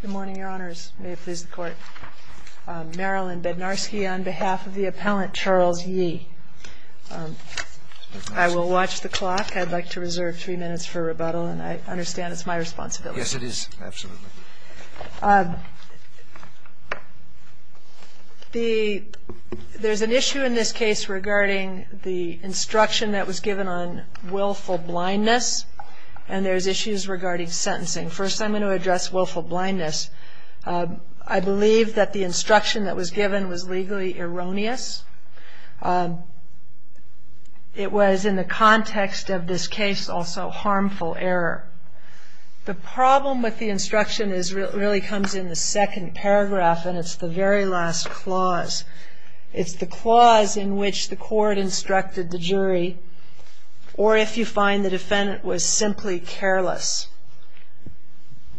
Good morning, Your Honors. May it please the Court. Marilyn Bednarski on behalf of the appellant Charles Yi. I will watch the clock. I'd like to reserve three minutes for rebuttal and I understand it's my responsibility. Yes, it is. Absolutely. There's an issue in this case regarding the instruction that was given on willful blindness and there's issues regarding sentencing. First, I'm going to address willful blindness. I believe that the instruction that was given was legally erroneous. It was in the context of this case also harmful error. The problem with the instruction really comes in the second paragraph and it's the very last clause. It's the clause in which the court instructed the defendant was simply careless.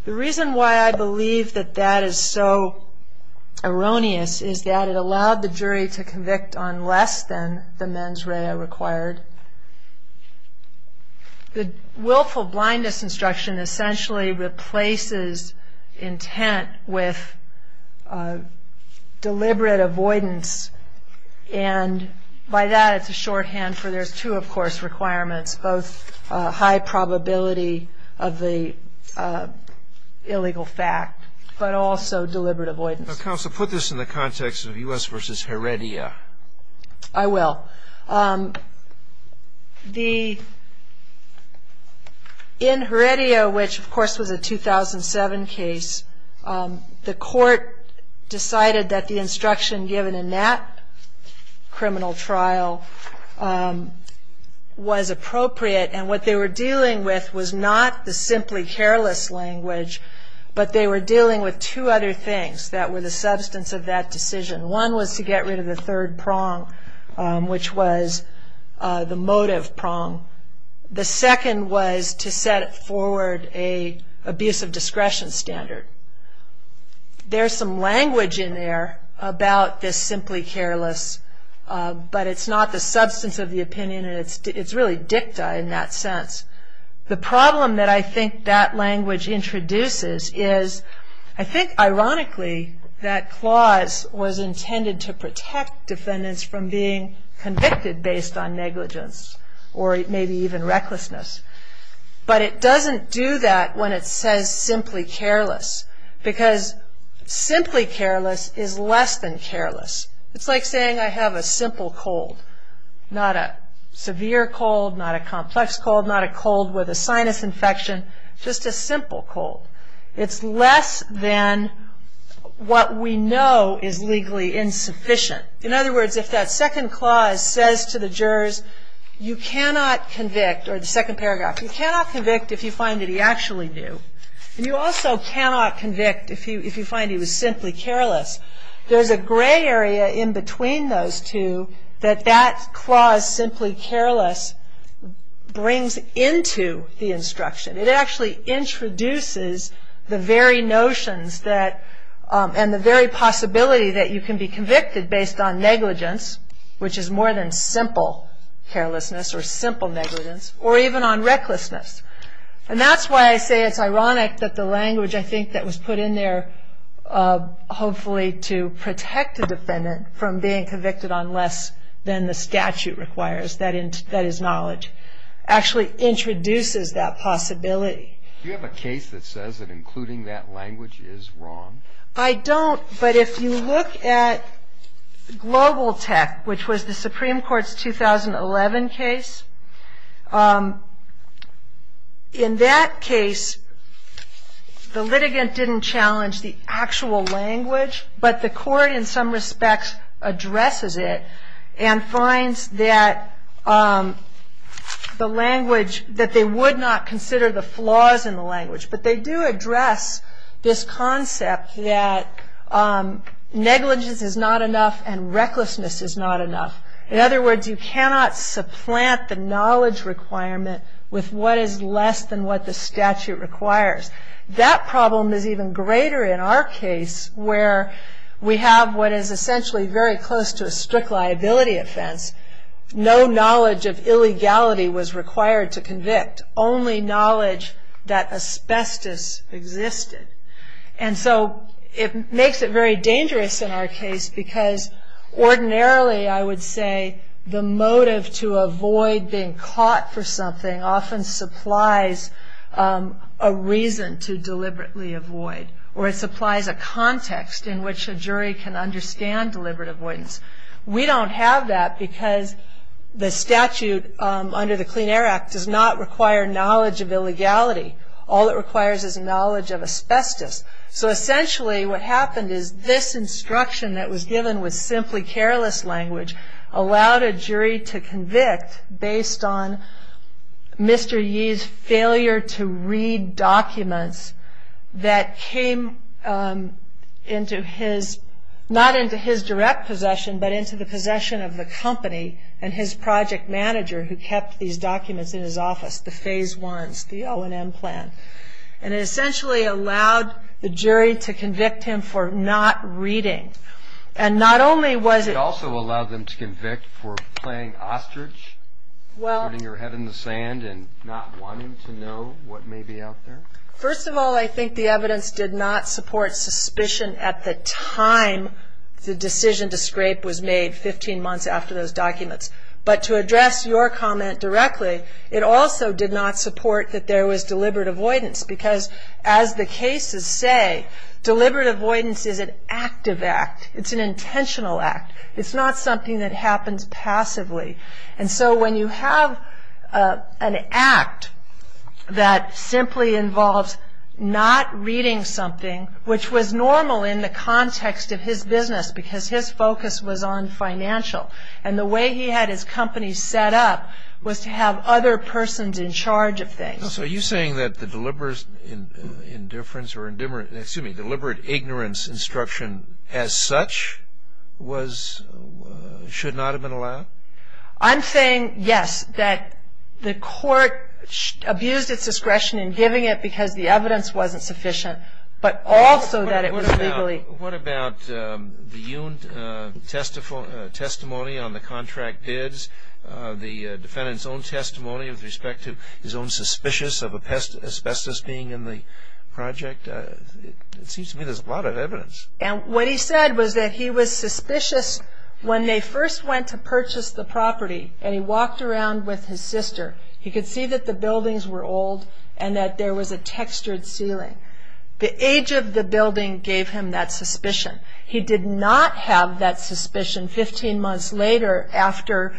The reason why I believe that that is so erroneous is that it allowed the jury to convict on less than the mens rea required. The willful blindness instruction essentially replaces intent with deliberate avoidance and by that it's a shorthand for there's two of course requirements, both high probability of the illegal fact but also deliberate avoidance. Counsel, put this in the context of U.S. v. Heredia. I will. In Heredia, which of course was a 2007 case, the court decided that the instruction given in that criminal trial was appropriate and what they were dealing with was not the simply careless language but they were dealing with two other things that were the substance of that decision. One was to get rid of the third prong, which was the motive prong. The second was to set forward an abuse of discretion standard. There's some language in there about this simply careless but it's not the substance of the opinion and it's really dicta in that sense. The problem that I think that language introduces is I think ironically that clause was intended to protect defendants from being convicted based on negligence or maybe even recklessness but it doesn't do that when it says simply careless because simply careless is less than careless. It's like saying I have a simple cold, not a severe cold, not a complex cold, not a cold with a sinus infection, just a simple cold. It's less than what we know is legally insufficient. In other words, if that second clause says to the jurors, you cannot convict or the second paragraph, you cannot convict if you find that he actually knew. You also cannot convict if you find he was simply careless. There's a gray area in between those two that that clause simply careless brings into the instruction. It actually introduces the very notions and the very possibility that you can be convicted based on negligence, which is more than simple carelessness or simple negligence, or even on recklessness. And that's why I say it's ironic that the language I think that was put in there hopefully to protect the defendant from being convicted on less than the statute requires, that is knowledge, actually introduces that possibility. Do you have a case that says that including that language is wrong? I don't, but if you look at Global Tech, which was the Supreme Court's 2011 case, it was in that case the litigant didn't challenge the actual language, but the court in some respects addresses it and finds that the language, that they would not consider the flaws in the language, but they do address this concept that negligence is not enough and recklessness is not enough. In other words, you cannot supplant the knowledge requirement with what is less than what the statute requires. That problem is even greater in our case where we have what is essentially very close to a strict liability offense. No knowledge of illegality was required to convict, only knowledge that asbestos existed. So it makes it very dangerous in our case because ordinarily I would say the motive to avoid being caught for something often supplies a reason to deliberately avoid or it supplies a context in which a jury can understand deliberate avoidance. We don't have that because the statute under the Clean Air Act does not require knowledge of illegality. All it requires is knowledge of asbestos. So essentially what happened is this instruction that was given with simply careless language allowed a jury to convict based on Mr. Yee's failure to read documents that came into his, not into his direct possession, but into the possession of the company and his project manager who kept these documents in his office, the Phase I's, the O&M plan. And it essentially allowed the jury to convict him for not reading. And not only was it... It also allowed them to convict for playing ostrich, putting your head in the sand and not wanting to know what may be out there? First of all, I think the evidence did not support suspicion at the time the decision to scrape was made, 15 months after those documents. But to address your comment directly, it also did not support that there was deliberate avoidance because as the cases say, deliberate avoidance is an active act. It's an intentional act. It's not something that happens passively. And so when you have an act that simply involves not reading something, which was normal in the context of his business because his focus was on financial. And the way he had his company set up was to have other persons in charge of things. So are you saying that the deliberate indifference or deliberate ignorance instruction as such should not have been allowed? I'm saying, yes, that the court abused its discretion in giving it because the evidence wasn't sufficient, but also that it was legally... What about the Uint testimony on the contract bids, the defendant's own testimony with respect to his own suspicious of asbestos being in the project? It seems to me there's a lot of evidence. And what he said was that he was suspicious when they first went to purchase the property and he walked around with his sister. He could see that the buildings were old and that there was a lot of evidence. And he gave him that suspicion. He did not have that suspicion 15 months later after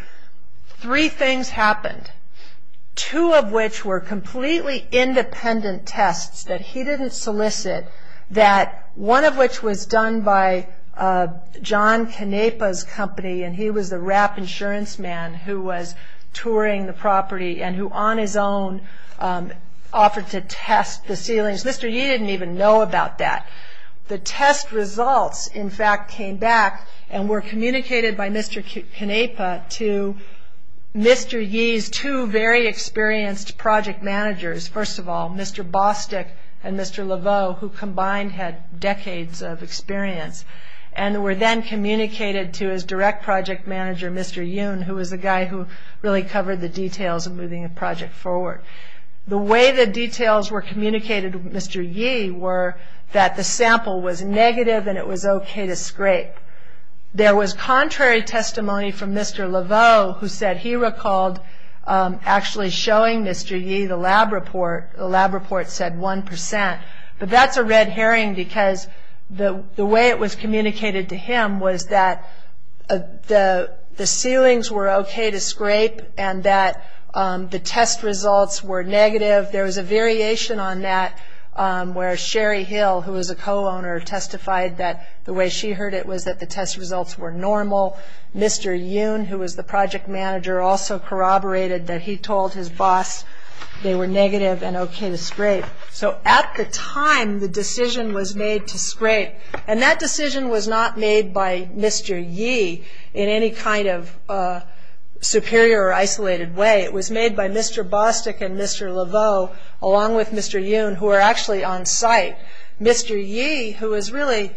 three things happened, two of which were completely independent tests that he didn't solicit, one of which was done by John Canepa's company and he was the wrap insurance man who was touring the property and who on his own offered to test the ceilings. Mr. Yee didn't even know about that. The test results, in fact, came back and were communicated by Mr. Canepa to Mr. Yee's two very experienced project managers. First of all, Mr. Bostick and Mr. Laveau, who combined had decades of experience, and were then communicated to his direct project manager, Mr. Yoon, who was the guy who really covered the details of moving a project forward. The way the details were communicated to Mr. Yee were that the sample was negative and it was okay to scrape. There was contrary testimony from Mr. Laveau, who said he recalled actually showing Mr. Yee the lab report. The lab report said one percent. But that's a red herring because the way it was communicated to him was that the ceilings were okay to scrape and that the test results were negative. There was a variation on that where Sherry Hill, who was a co-owner, testified that the way she heard it was that the test results were normal. Mr. Yoon, who was the project manager, also corroborated that he told his boss they were negative and okay to scrape. So at the time, the decision was made to scrape. That decision was not made by Mr. Yee in any kind of superior or isolated way. It was made by Mr. Bostick and Mr. Laveau, along with Mr. Yoon, who were actually on site. Mr. Yee, who was really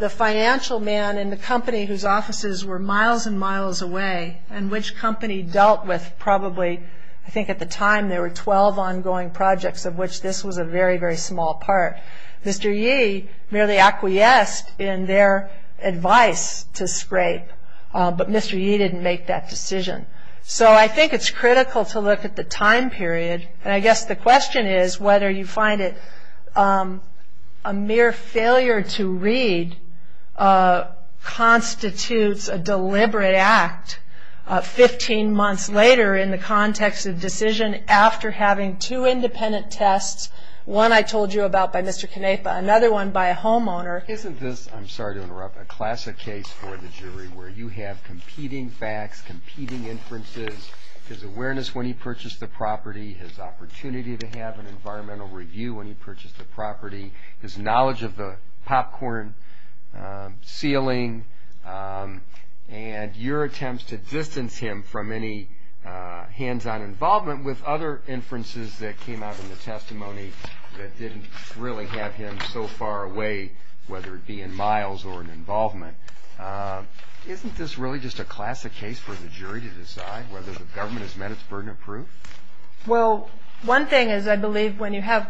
the financial man in the company whose offices were miles and miles away, and which company dealt with probably, I think Mr. Yee merely acquiesced in their advice to scrape, but Mr. Yee didn't make that decision. So I think it's critical to look at the time period, and I guess the question is whether you find it a mere failure to read constitutes a deliberate act 15 months later in the context of the decision after having two independent tests, one I told you about by Mr. Canepa, another one by a homeowner. Isn't this, I'm sorry to interrupt, a classic case for the jury where you have competing facts, competing inferences, his awareness when he purchased the property, his opportunity to have an environmental review when he purchased the property, his knowledge of the popcorn ceiling, and your attempts to distance him from any hands-on involvement in the case with other inferences that came out in the testimony that didn't really have him so far away, whether it be in miles or in involvement. Isn't this really just a classic case for the jury to decide whether the government has met its burden of proof? Well, one thing is I believe when you have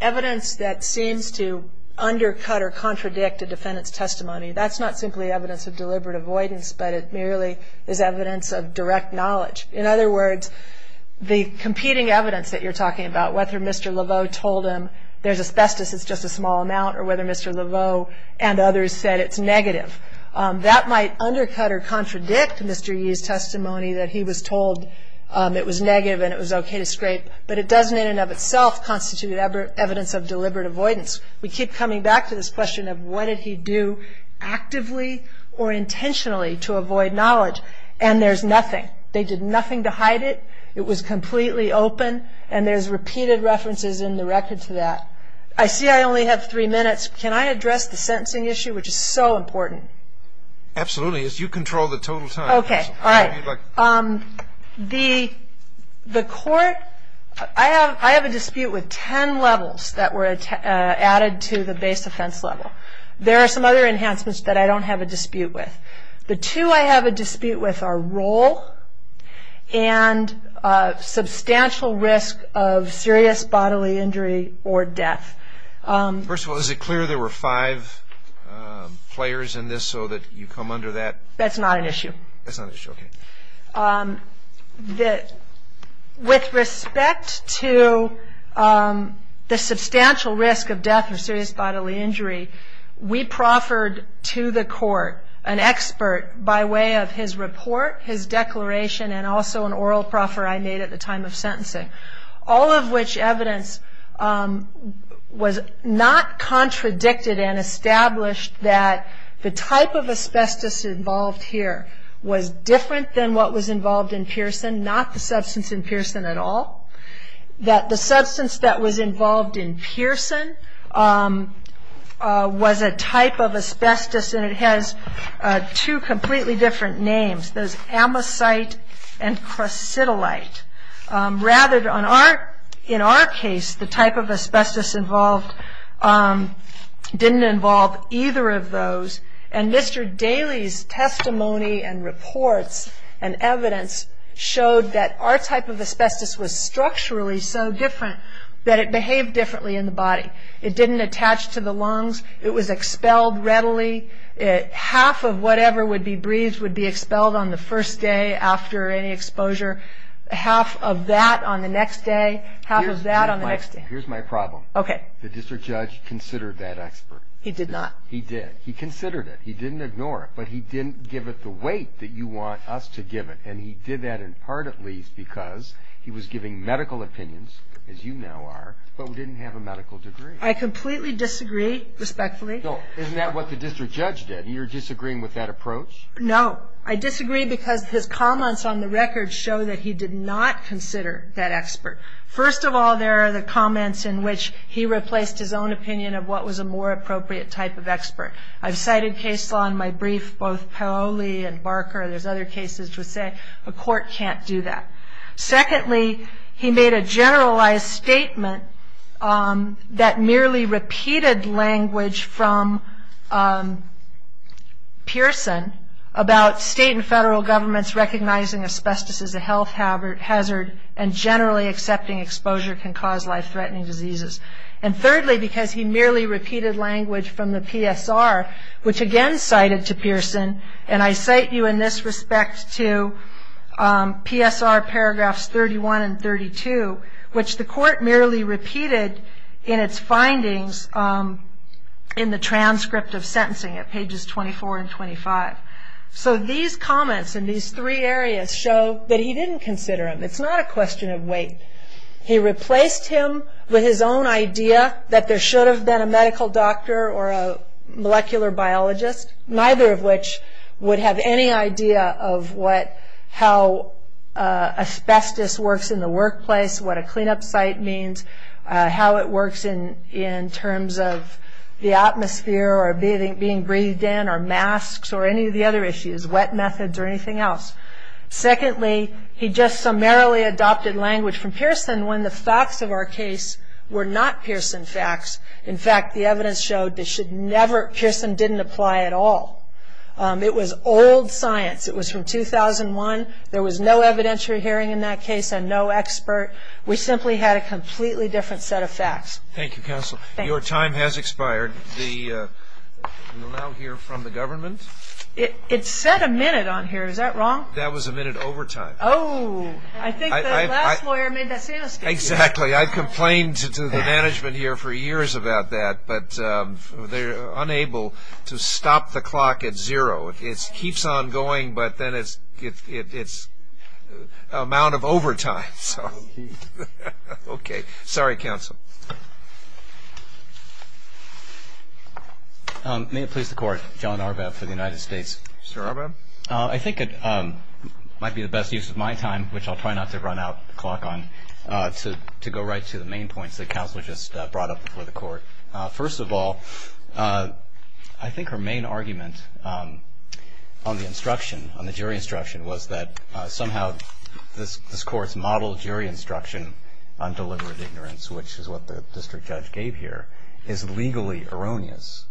evidence that seems to undercut or contradict a defendant's testimony, that's not simply evidence of deliberate avoidance, but it merely is evidence of direct knowledge. In other words, the competing evidence that you're talking about, whether Mr. Laveau told him there's asbestos, it's just a small amount, or whether Mr. Laveau and others said it's negative, that might undercut or contradict Mr. Yee's testimony that he was told it was negative and it was okay to scrape, but it doesn't in and of itself constitute evidence of deliberate avoidance. We keep coming back to this question of what did he do actively or intentionally to avoid knowledge, and there's nothing. They did nothing to hide it. It was completely open, and there's repeated references in the record to that. I see I only have three minutes. Can I address the sentencing issue, which is so important? Absolutely. You control the total time. Okay. All right. The court, I have a dispute with ten levels that were added to the base offense level. There are some other enhancements that I don't have a dispute with. The two I have a dispute with are role and substantial risk of serious bodily injury or death. First of all, is it clear there were five players in this so that you come under that? That's not an issue. That's not an issue. Okay. With respect to the substantial risk of death or serious bodily injury, we proffered to the court an expert by way of his report, his declaration, and also an oral proffer I made at the time of sentencing, all of which evidence was not contradicted and established that the type of asbestos involved here was different than what was involved in Pearson, not the substance in Pearson at all, that the substance that was involved in Pearson was a type of asbestos, and it has two completely different names, those amosite and crucidolite. Rather in our case, the type of asbestos involved didn't involve either of those, and Mr. Daly's testimony and reports and evidence showed that our type of asbestos was structurally so different that it behaved differently in the body. It didn't attach to the lungs. It was expelled readily. Half of whatever would be breathed would be expelled on the first day after any exposure. Half of that on the next day, half of that on the next day. Here's my problem. Okay. The district judge considered that expert. He did not. He did. He considered it. He didn't ignore it, but he didn't give it the weight that you want us to give it, and he did that in part, at least, because he was giving medical opinions, as you now are, but didn't have a medical degree. I completely disagree, respectfully. Isn't that what the district judge did? You're disagreeing with that approach? No. I disagree because his comments on the record show that he did not consider that expert. First of all, there are the comments in which he replaced his own opinion of what was a more appropriate type of expert. I've cited case law in my brief, both Paoli and there's other cases to say a court can't do that. Secondly, he made a generalized statement that merely repeated language from Pearson about state and federal governments recognizing asbestos as a health hazard and generally accepting exposure can cause life-threatening diseases. Thirdly, because he merely repeated language from the PSR, which again cited to Pearson, and I cite you in this respect to PSR paragraphs 31 and 32, which the court merely repeated in its findings in the transcript of sentencing at pages 24 and 25. These comments in these three areas show that he didn't consider them. It's not a question of weight. He replaced him with his own idea that there should have been a medical doctor or a molecular biologist, neither of which would have any idea of how asbestos works in the workplace, what a cleanup site means, how it works in terms of the atmosphere or being breathed in or masks or any of the other issues, wet methods or anything else. Secondly, he just summarily adopted language from Pearson when the facts of our case were not Pearson facts. In fact, the evidence showed they should never, Pearson didn't apply at all. It was old science. It was from 2001. There was no evidentiary hearing in that case and no expert. We simply had a completely different set of facts. Thank you, counsel. Your time has expired. We will now hear from the government. It said a minute on here. Is that wrong? That was a minute overtime. Oh, I think the last lawyer made that same mistake. Exactly. I complained to the management here for years about that, but they're unable to stop the clock at zero. It keeps on going, but then it's amount of overtime. Sorry, counsel. May it please the court. John Arbab for the United States. Mr. Arbab. I think it might be the best use of my time, which I'll try not to run out the clock on, to go right to the main points that counsel just brought up before the court. First of all, I think her main argument on the instruction, on the jury instruction, was that somehow this court's model jury instruction on deliberate ignorance, which is what the district judge gave here, is legally erroneous.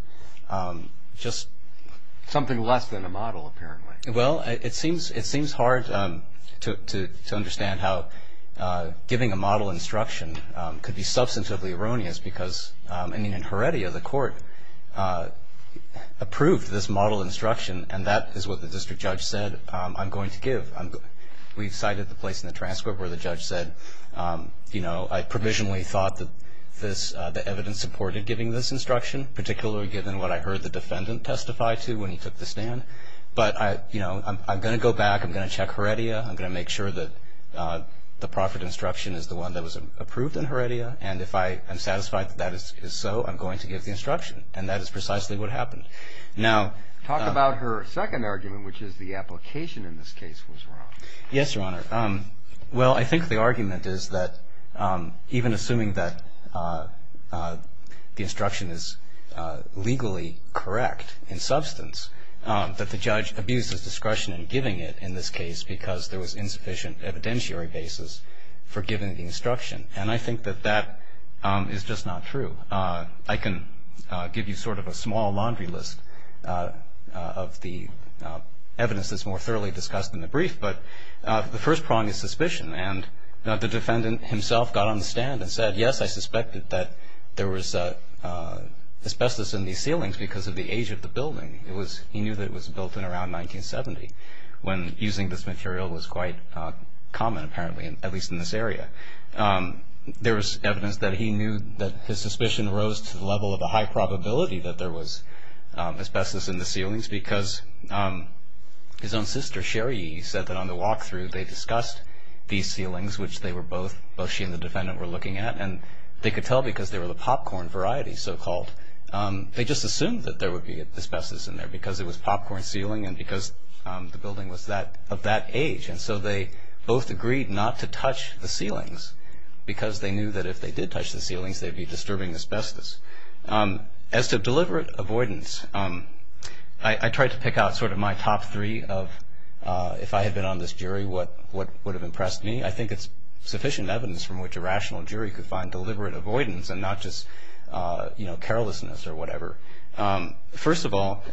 Something less than a model, apparently. Well, it seems hard to understand how giving a model instruction could be substantively erroneous because in Heredia, the court approved this model instruction, and that is what the district judge said, I'm going to give. We cited the place in the transcript where the evidence supported giving this instruction, particularly given what I heard the defendant testify to when he took the stand. But I'm going to go back, I'm going to check Heredia, I'm going to make sure that the proffered instruction is the one that was approved in Heredia, and if I am satisfied that that is so, I'm going to give the instruction. And that is precisely what happened. Now talk about her second argument, which is the application in this case was wrong. Yes, Your Honor. Well, I think the argument is that even assuming that the instruction is legally correct in substance, that the judge abuses discretion in giving it in this case because there was insufficient evidentiary basis for giving the instruction. And I think that that is just not true. I can give you sort of a small laundry list of the evidence that's more thoroughly discussed in the brief, but the first prong is suspicion. And the defendant himself got on the stand and said, yes, I suspected that there was asbestos in these ceilings because of the age of the building. He knew that it was built in around 1970, when using this material was quite common apparently, at least in this area. There was evidence that he knew that his suspicion rose to the level of a high probability that there was asbestos in the ceilings because his own sister, Sherry, said that on the walkthrough they discussed these ceilings, which they were both, both she and the defendant were looking at. And they could tell because they were the popcorn variety, so-called. They just assumed that there would be asbestos in there because it was popcorn ceiling and because the building was of that age. And so they both agreed not to touch the ceilings because they knew that if they did touch the ceilings, they'd be disturbing asbestos. As to deliberate avoidance, I tried to pick out sort of my top three of, if I had been on this jury, what would have impressed me. I think it's sufficient evidence from which a rational jury could find deliberate avoidance and not just carelessness or whatever. First of all,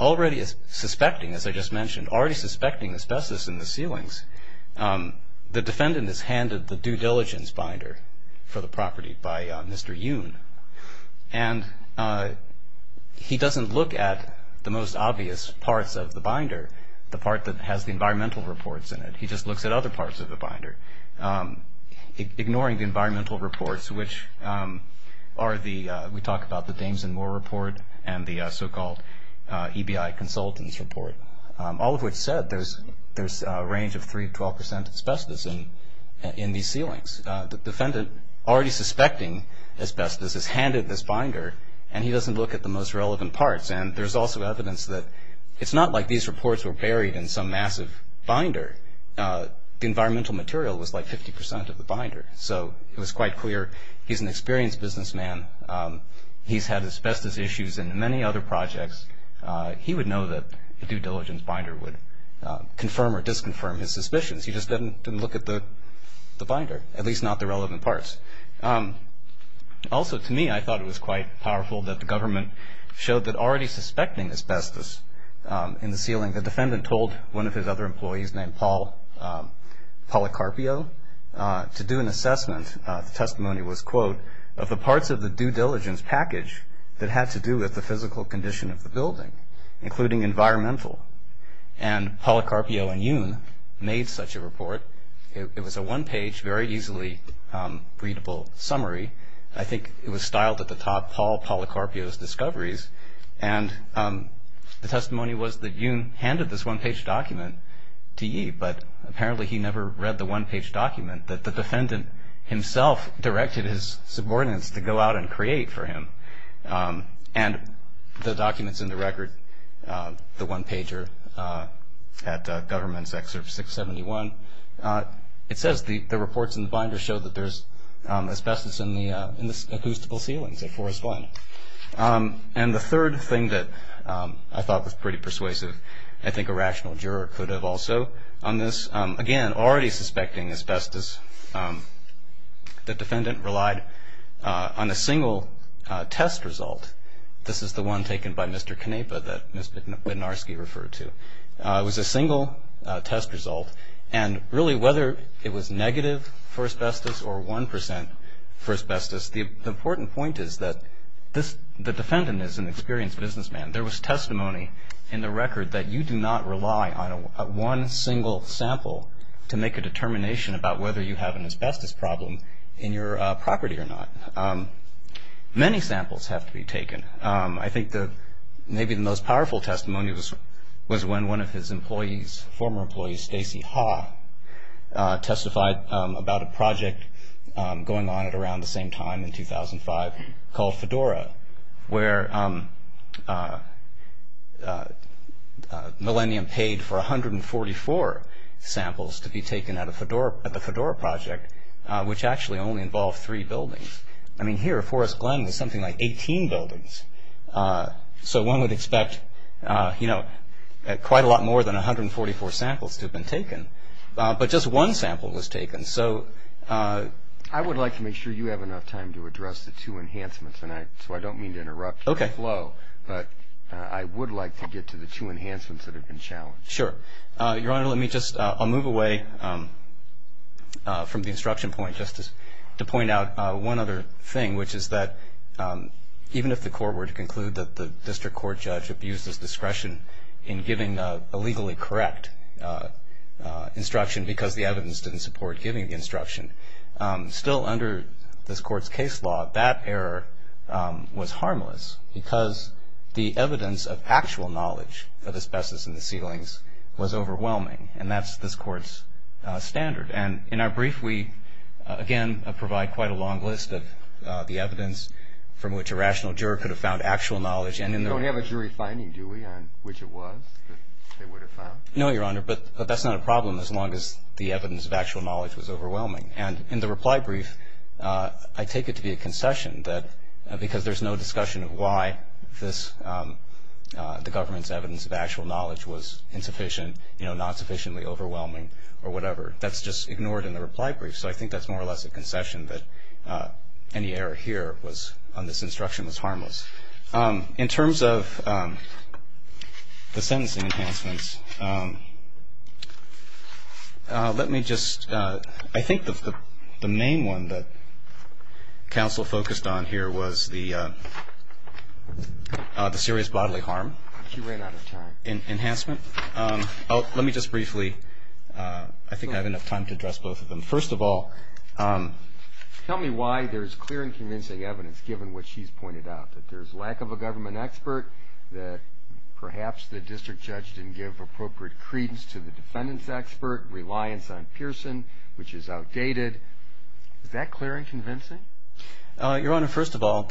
already suspecting, as I just mentioned, already suspecting asbestos in the ceilings, the defendant is handed the due diligence binder for the property by Mr. Yoon. And he doesn't look at the most obvious parts of the binder, the part that has the environmental reports in it. He just looks at other parts of the binder, ignoring the environmental reports, which are the, we talk about the Dames and Moore report and the so-called EBI consultants report. All of which said, there's a range of 3 to 12 percent asbestos in these ceilings. The defendant, already suspecting asbestos, is handed this binder and he doesn't look at the most relevant parts. And there's also evidence that it's not like these reports were buried in some massive binder. The environmental material was like 50 percent of the binder. So it was quite clear he's an experienced businessman. He's had asbestos issues in many other projects. He would know that the due diligence binder would confirm or disconfirm his suspicions. He just didn't look at the binder, at least not the relevant parts. Also, to me, I thought it was quite powerful that the government showed that already suspecting asbestos in the ceiling, the defendant told one of his other employees named Paul Policarpio to do an assessment. The testimony was, quote, of the parts of the due diligence package that had to do with the physical condition of the building, including environmental. And Policarpio and Yoon made such a report. It was a one-page, very easily readable summary. I think it was styled at the top, Paul Policarpio's Discoveries. And the testimony was that Yoon handed this one-page document to Yee, but apparently he never read the one-page document that the defendant himself directed his subordinates to go out and create for him. And the documents in the record, the one-pager at Government's Excerpt 671, it says the reports in the binder show that there's asbestos in the acoustical ceilings at Forest Blend. And the third thing that I thought was pretty persuasive, I think a rational juror could have also on this, again, already suspecting asbestos, the defendant relied on a single test result. This is the one taken by Mr. Canepa that Ms. Bednarski referred to. It was a single test result. And really, whether it was negative for asbestos or 1% for asbestos, the important point is that the defendant is an experienced businessman. There was testimony in the record that you do not rely on one single sample to make a determination about whether you have an asbestos problem in your property or not. Many samples have to be taken. I think maybe the most powerful testimony was when one of his employees, former employee Stacey Haw, testified about a project going on at around the same time in 2005 called Fedora, where Millennium paid for 144 samples to be taken at the Fedora project, which actually only involved three buildings. I mean, here, Forest Glen was something like 18 buildings. So one would expect quite a lot more than 144 samples to have been taken. But just one sample was taken. I would like to make sure you have enough time to address the two enhancements, so I would like to get to the two enhancements that have been challenged. Sure. Your Honor, let me just, I'll move away from the instruction point just to point out one other thing, which is that even if the court were to conclude that the district court judge abused his discretion in giving a legally correct instruction because the evidence didn't support giving the instruction, still under this court's case law, that error was harmless because the evidence of actual knowledge of asbestos in the ceilings was overwhelming, and that's this court's standard. And in our brief, we, again, provide quite a long list of the evidence from which a rational juror could have found actual knowledge and in the You don't have a jury finding, do we, on which it was that they would have found? No, Your Honor, but that's not a problem as long as the evidence of actual knowledge was overwhelming. And in the reply brief, I take it to be a concession that because there's no discussion of why the government's evidence of actual knowledge was insufficient, not sufficiently overwhelming, or whatever. That's just ignored in the reply brief, so I think that's more or less a concession that any error here on this instruction was harmless. In terms of the sentencing enhancements, let me just, I think the main one that counsel focused on here was the serious bodily harm enhancement. Oh, let me just briefly, I think I have enough time to address both of them. First of all, tell me why there's clear and convincing evidence given what she's pointed out, that there's lack of a government expert, that perhaps the district judge didn't give appropriate credence to the defendant's expert, reliance on Pearson, which is outdated. Is that clear and convincing? Your Honor, first of all,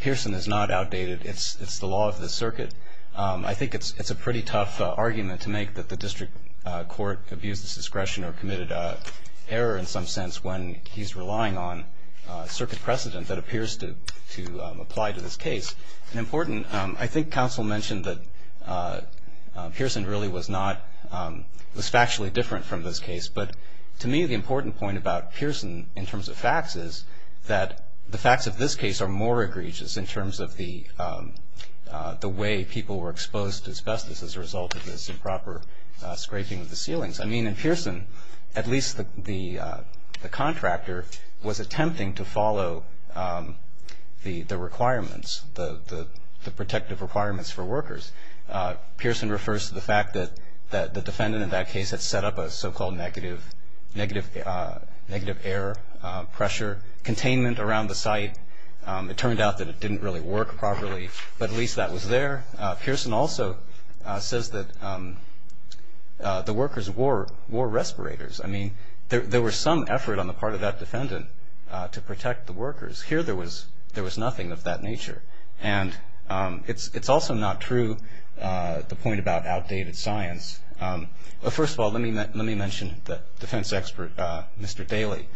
Pearson is not outdated. It's the law of the circuit. I think it's a pretty tough argument to make that the district court abused its discretion or committed an error in some sense when he's relying on circuit precedent that appears to apply to this case. An important, I think counsel mentioned that Pearson really was not, was factually different from this case, but to me the important point about Pearson in terms of facts is that the facts of this case are more egregious in terms of the way people were exposed to asbestos as a result of this improper scraping of the ceilings. I mean, in Pearson, at least the protective requirements for workers, Pearson refers to the fact that the defendant in that case had set up a so-called negative air pressure containment around the site. It turned out that it didn't really work properly, but at least that was there. Pearson also says that the workers wore respirators. I mean, there was some effort on the part of that defendant to protect the workers. Here there was nothing of that nature, and it's also not true the point about outdated science. First of all, let me mention the defense expert, Mr. Daley.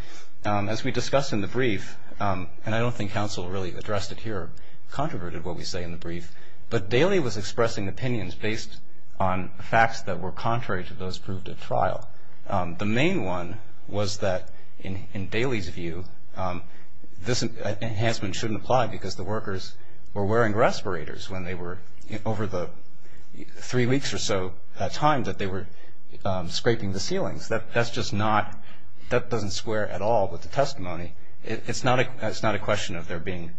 As we discussed in the brief, and I don't think counsel really addressed it here, controverted what we say in the brief, but Daley was expressing opinions based on facts that were contrary to those proved at trial. The main one was that, in Daley's view, this enhancement shouldn't apply because the workers were wearing respirators when they were, over the three weeks or so time that they were scraping the ceilings. That's just not, that doesn't square at all with the testimony. It's not a question of there being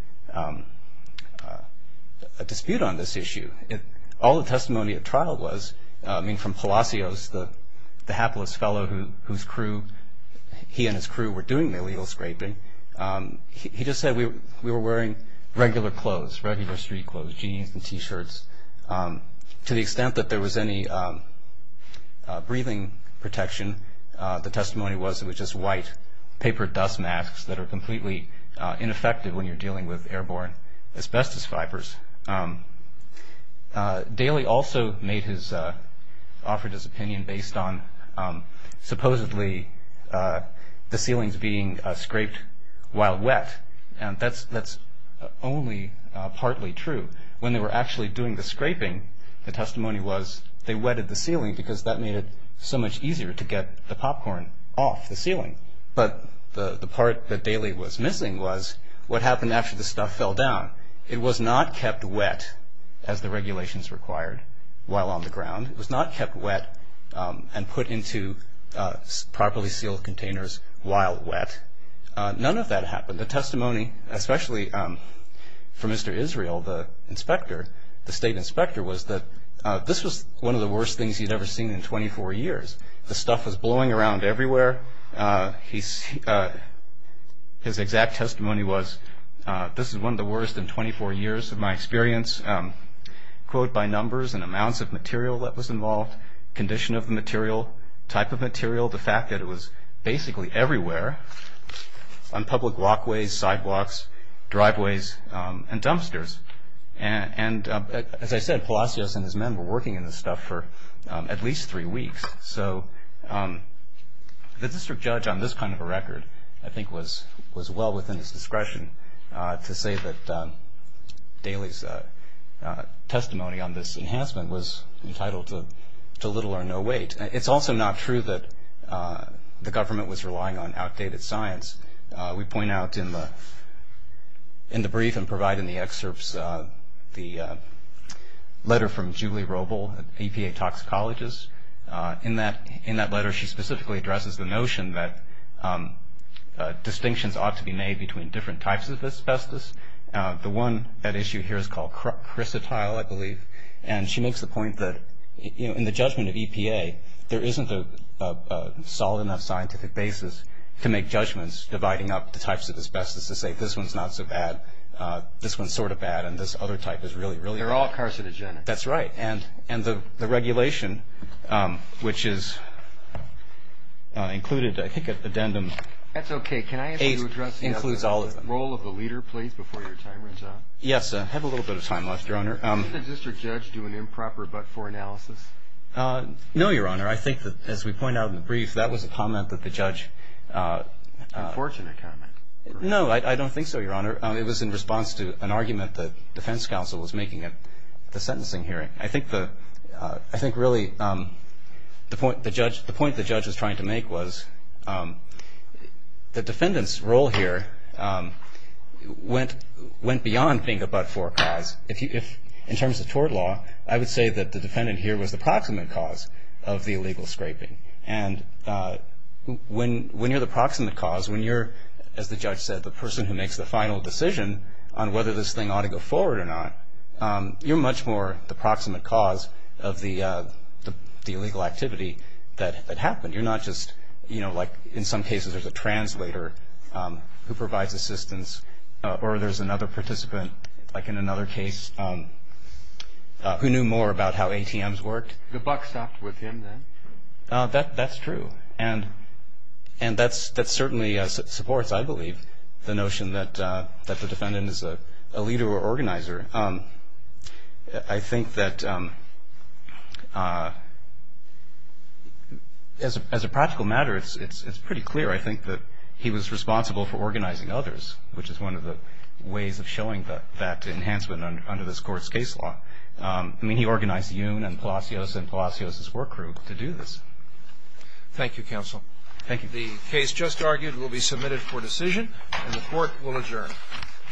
a dispute on this issue. All the while, Palacios, the hapless fellow whose crew, he and his crew were doing the illegal scraping, he just said we were wearing regular clothes, regular street clothes, jeans and t-shirts. To the extent that there was any breathing protection, the testimony was it was just white paper dust masks that are completely ineffective when you're dealing with airborne asbestos fibers. Daley also made his, offered his opinion based on supposedly the ceilings being scraped while wet. That's only partly true. When they were actually doing the scraping, the testimony was they wetted the ceiling because that made it so much easier to get the popcorn off the ceiling. But the part that Daley was missing was what happened after the stuff fell down. It was not kept wet, as the regulations required, while on the ground. It was not kept wet and put into properly sealed containers while wet. None of that happened. The testimony, especially from Mr. Israel, the inspector, the state inspector, was that this was one of the worst things he'd ever seen in 24 years. The stuff was this is one of the worst in 24 years of my experience, quote, by numbers and amounts of material that was involved, condition of the material, type of material, the fact that it was basically everywhere on public walkways, sidewalks, driveways and dumpsters. And as I said, Palacios and his men were working in this stuff for at least three weeks. So the district judge on this kind of a record, I think, was well within his discretion to say that Daley's testimony on this enhancement was entitled to little or no weight. It's also not true that the government was relying on outdated science. We point out in the brief and provide in the excerpts the letter from Julie Robel at APA Toxicology's. In that letter, she specifically addresses the notion that distinctions ought to be made between different types of asbestos. The one that issue here is called chrysotile, I believe. And she makes the point that in the judgment of EPA, there isn't a solid enough scientific basis to make judgments dividing up the types of asbestos to say this one's not so bad, this one's sort of bad, and this other type is really, really bad. They're all carcinogenic. That's right. And the regulation, which is included, I think, at addendum 8, includes all of them. Can I ask you to address the role of the leader, please, before your time runs out? Yes. I have a little bit of time left, Your Honor. Did the district judge do an improper but-for analysis? No, Your Honor. I think that, as we point out in the brief, that was a comment that the judge... An unfortunate comment. No, I don't think so, Your Honor. It was in response to an argument the defense counsel was making at the sentencing hearing. I think really the point the judge was trying to make was the defendant's role here went beyond being a but-for cause. In terms of tort law, I would say that the defendant here was the proximate cause of the illegal scraping. And when you're the proximate cause, when you're, as the judge said, the person who did it, you're much more the proximate cause of the illegal activity that happened. You're not just, you know, like in some cases there's a translator who provides assistance or there's another participant, like in another case, who knew more about how ATMs worked. The buck stopped with him, then? That's true. And that certainly supports, I believe, the notion that the defendant is a leader or organizer. I think that, as a practical matter, it's pretty clear, I think, that he was responsible for organizing others, which is one of the ways of showing that enhancement under this Court's case law. I mean, he organized Yoon and Palacios and Palacios' work group to do this. Thank you, counsel. The case just argued will be submitted for decision, and the Court will adjourn.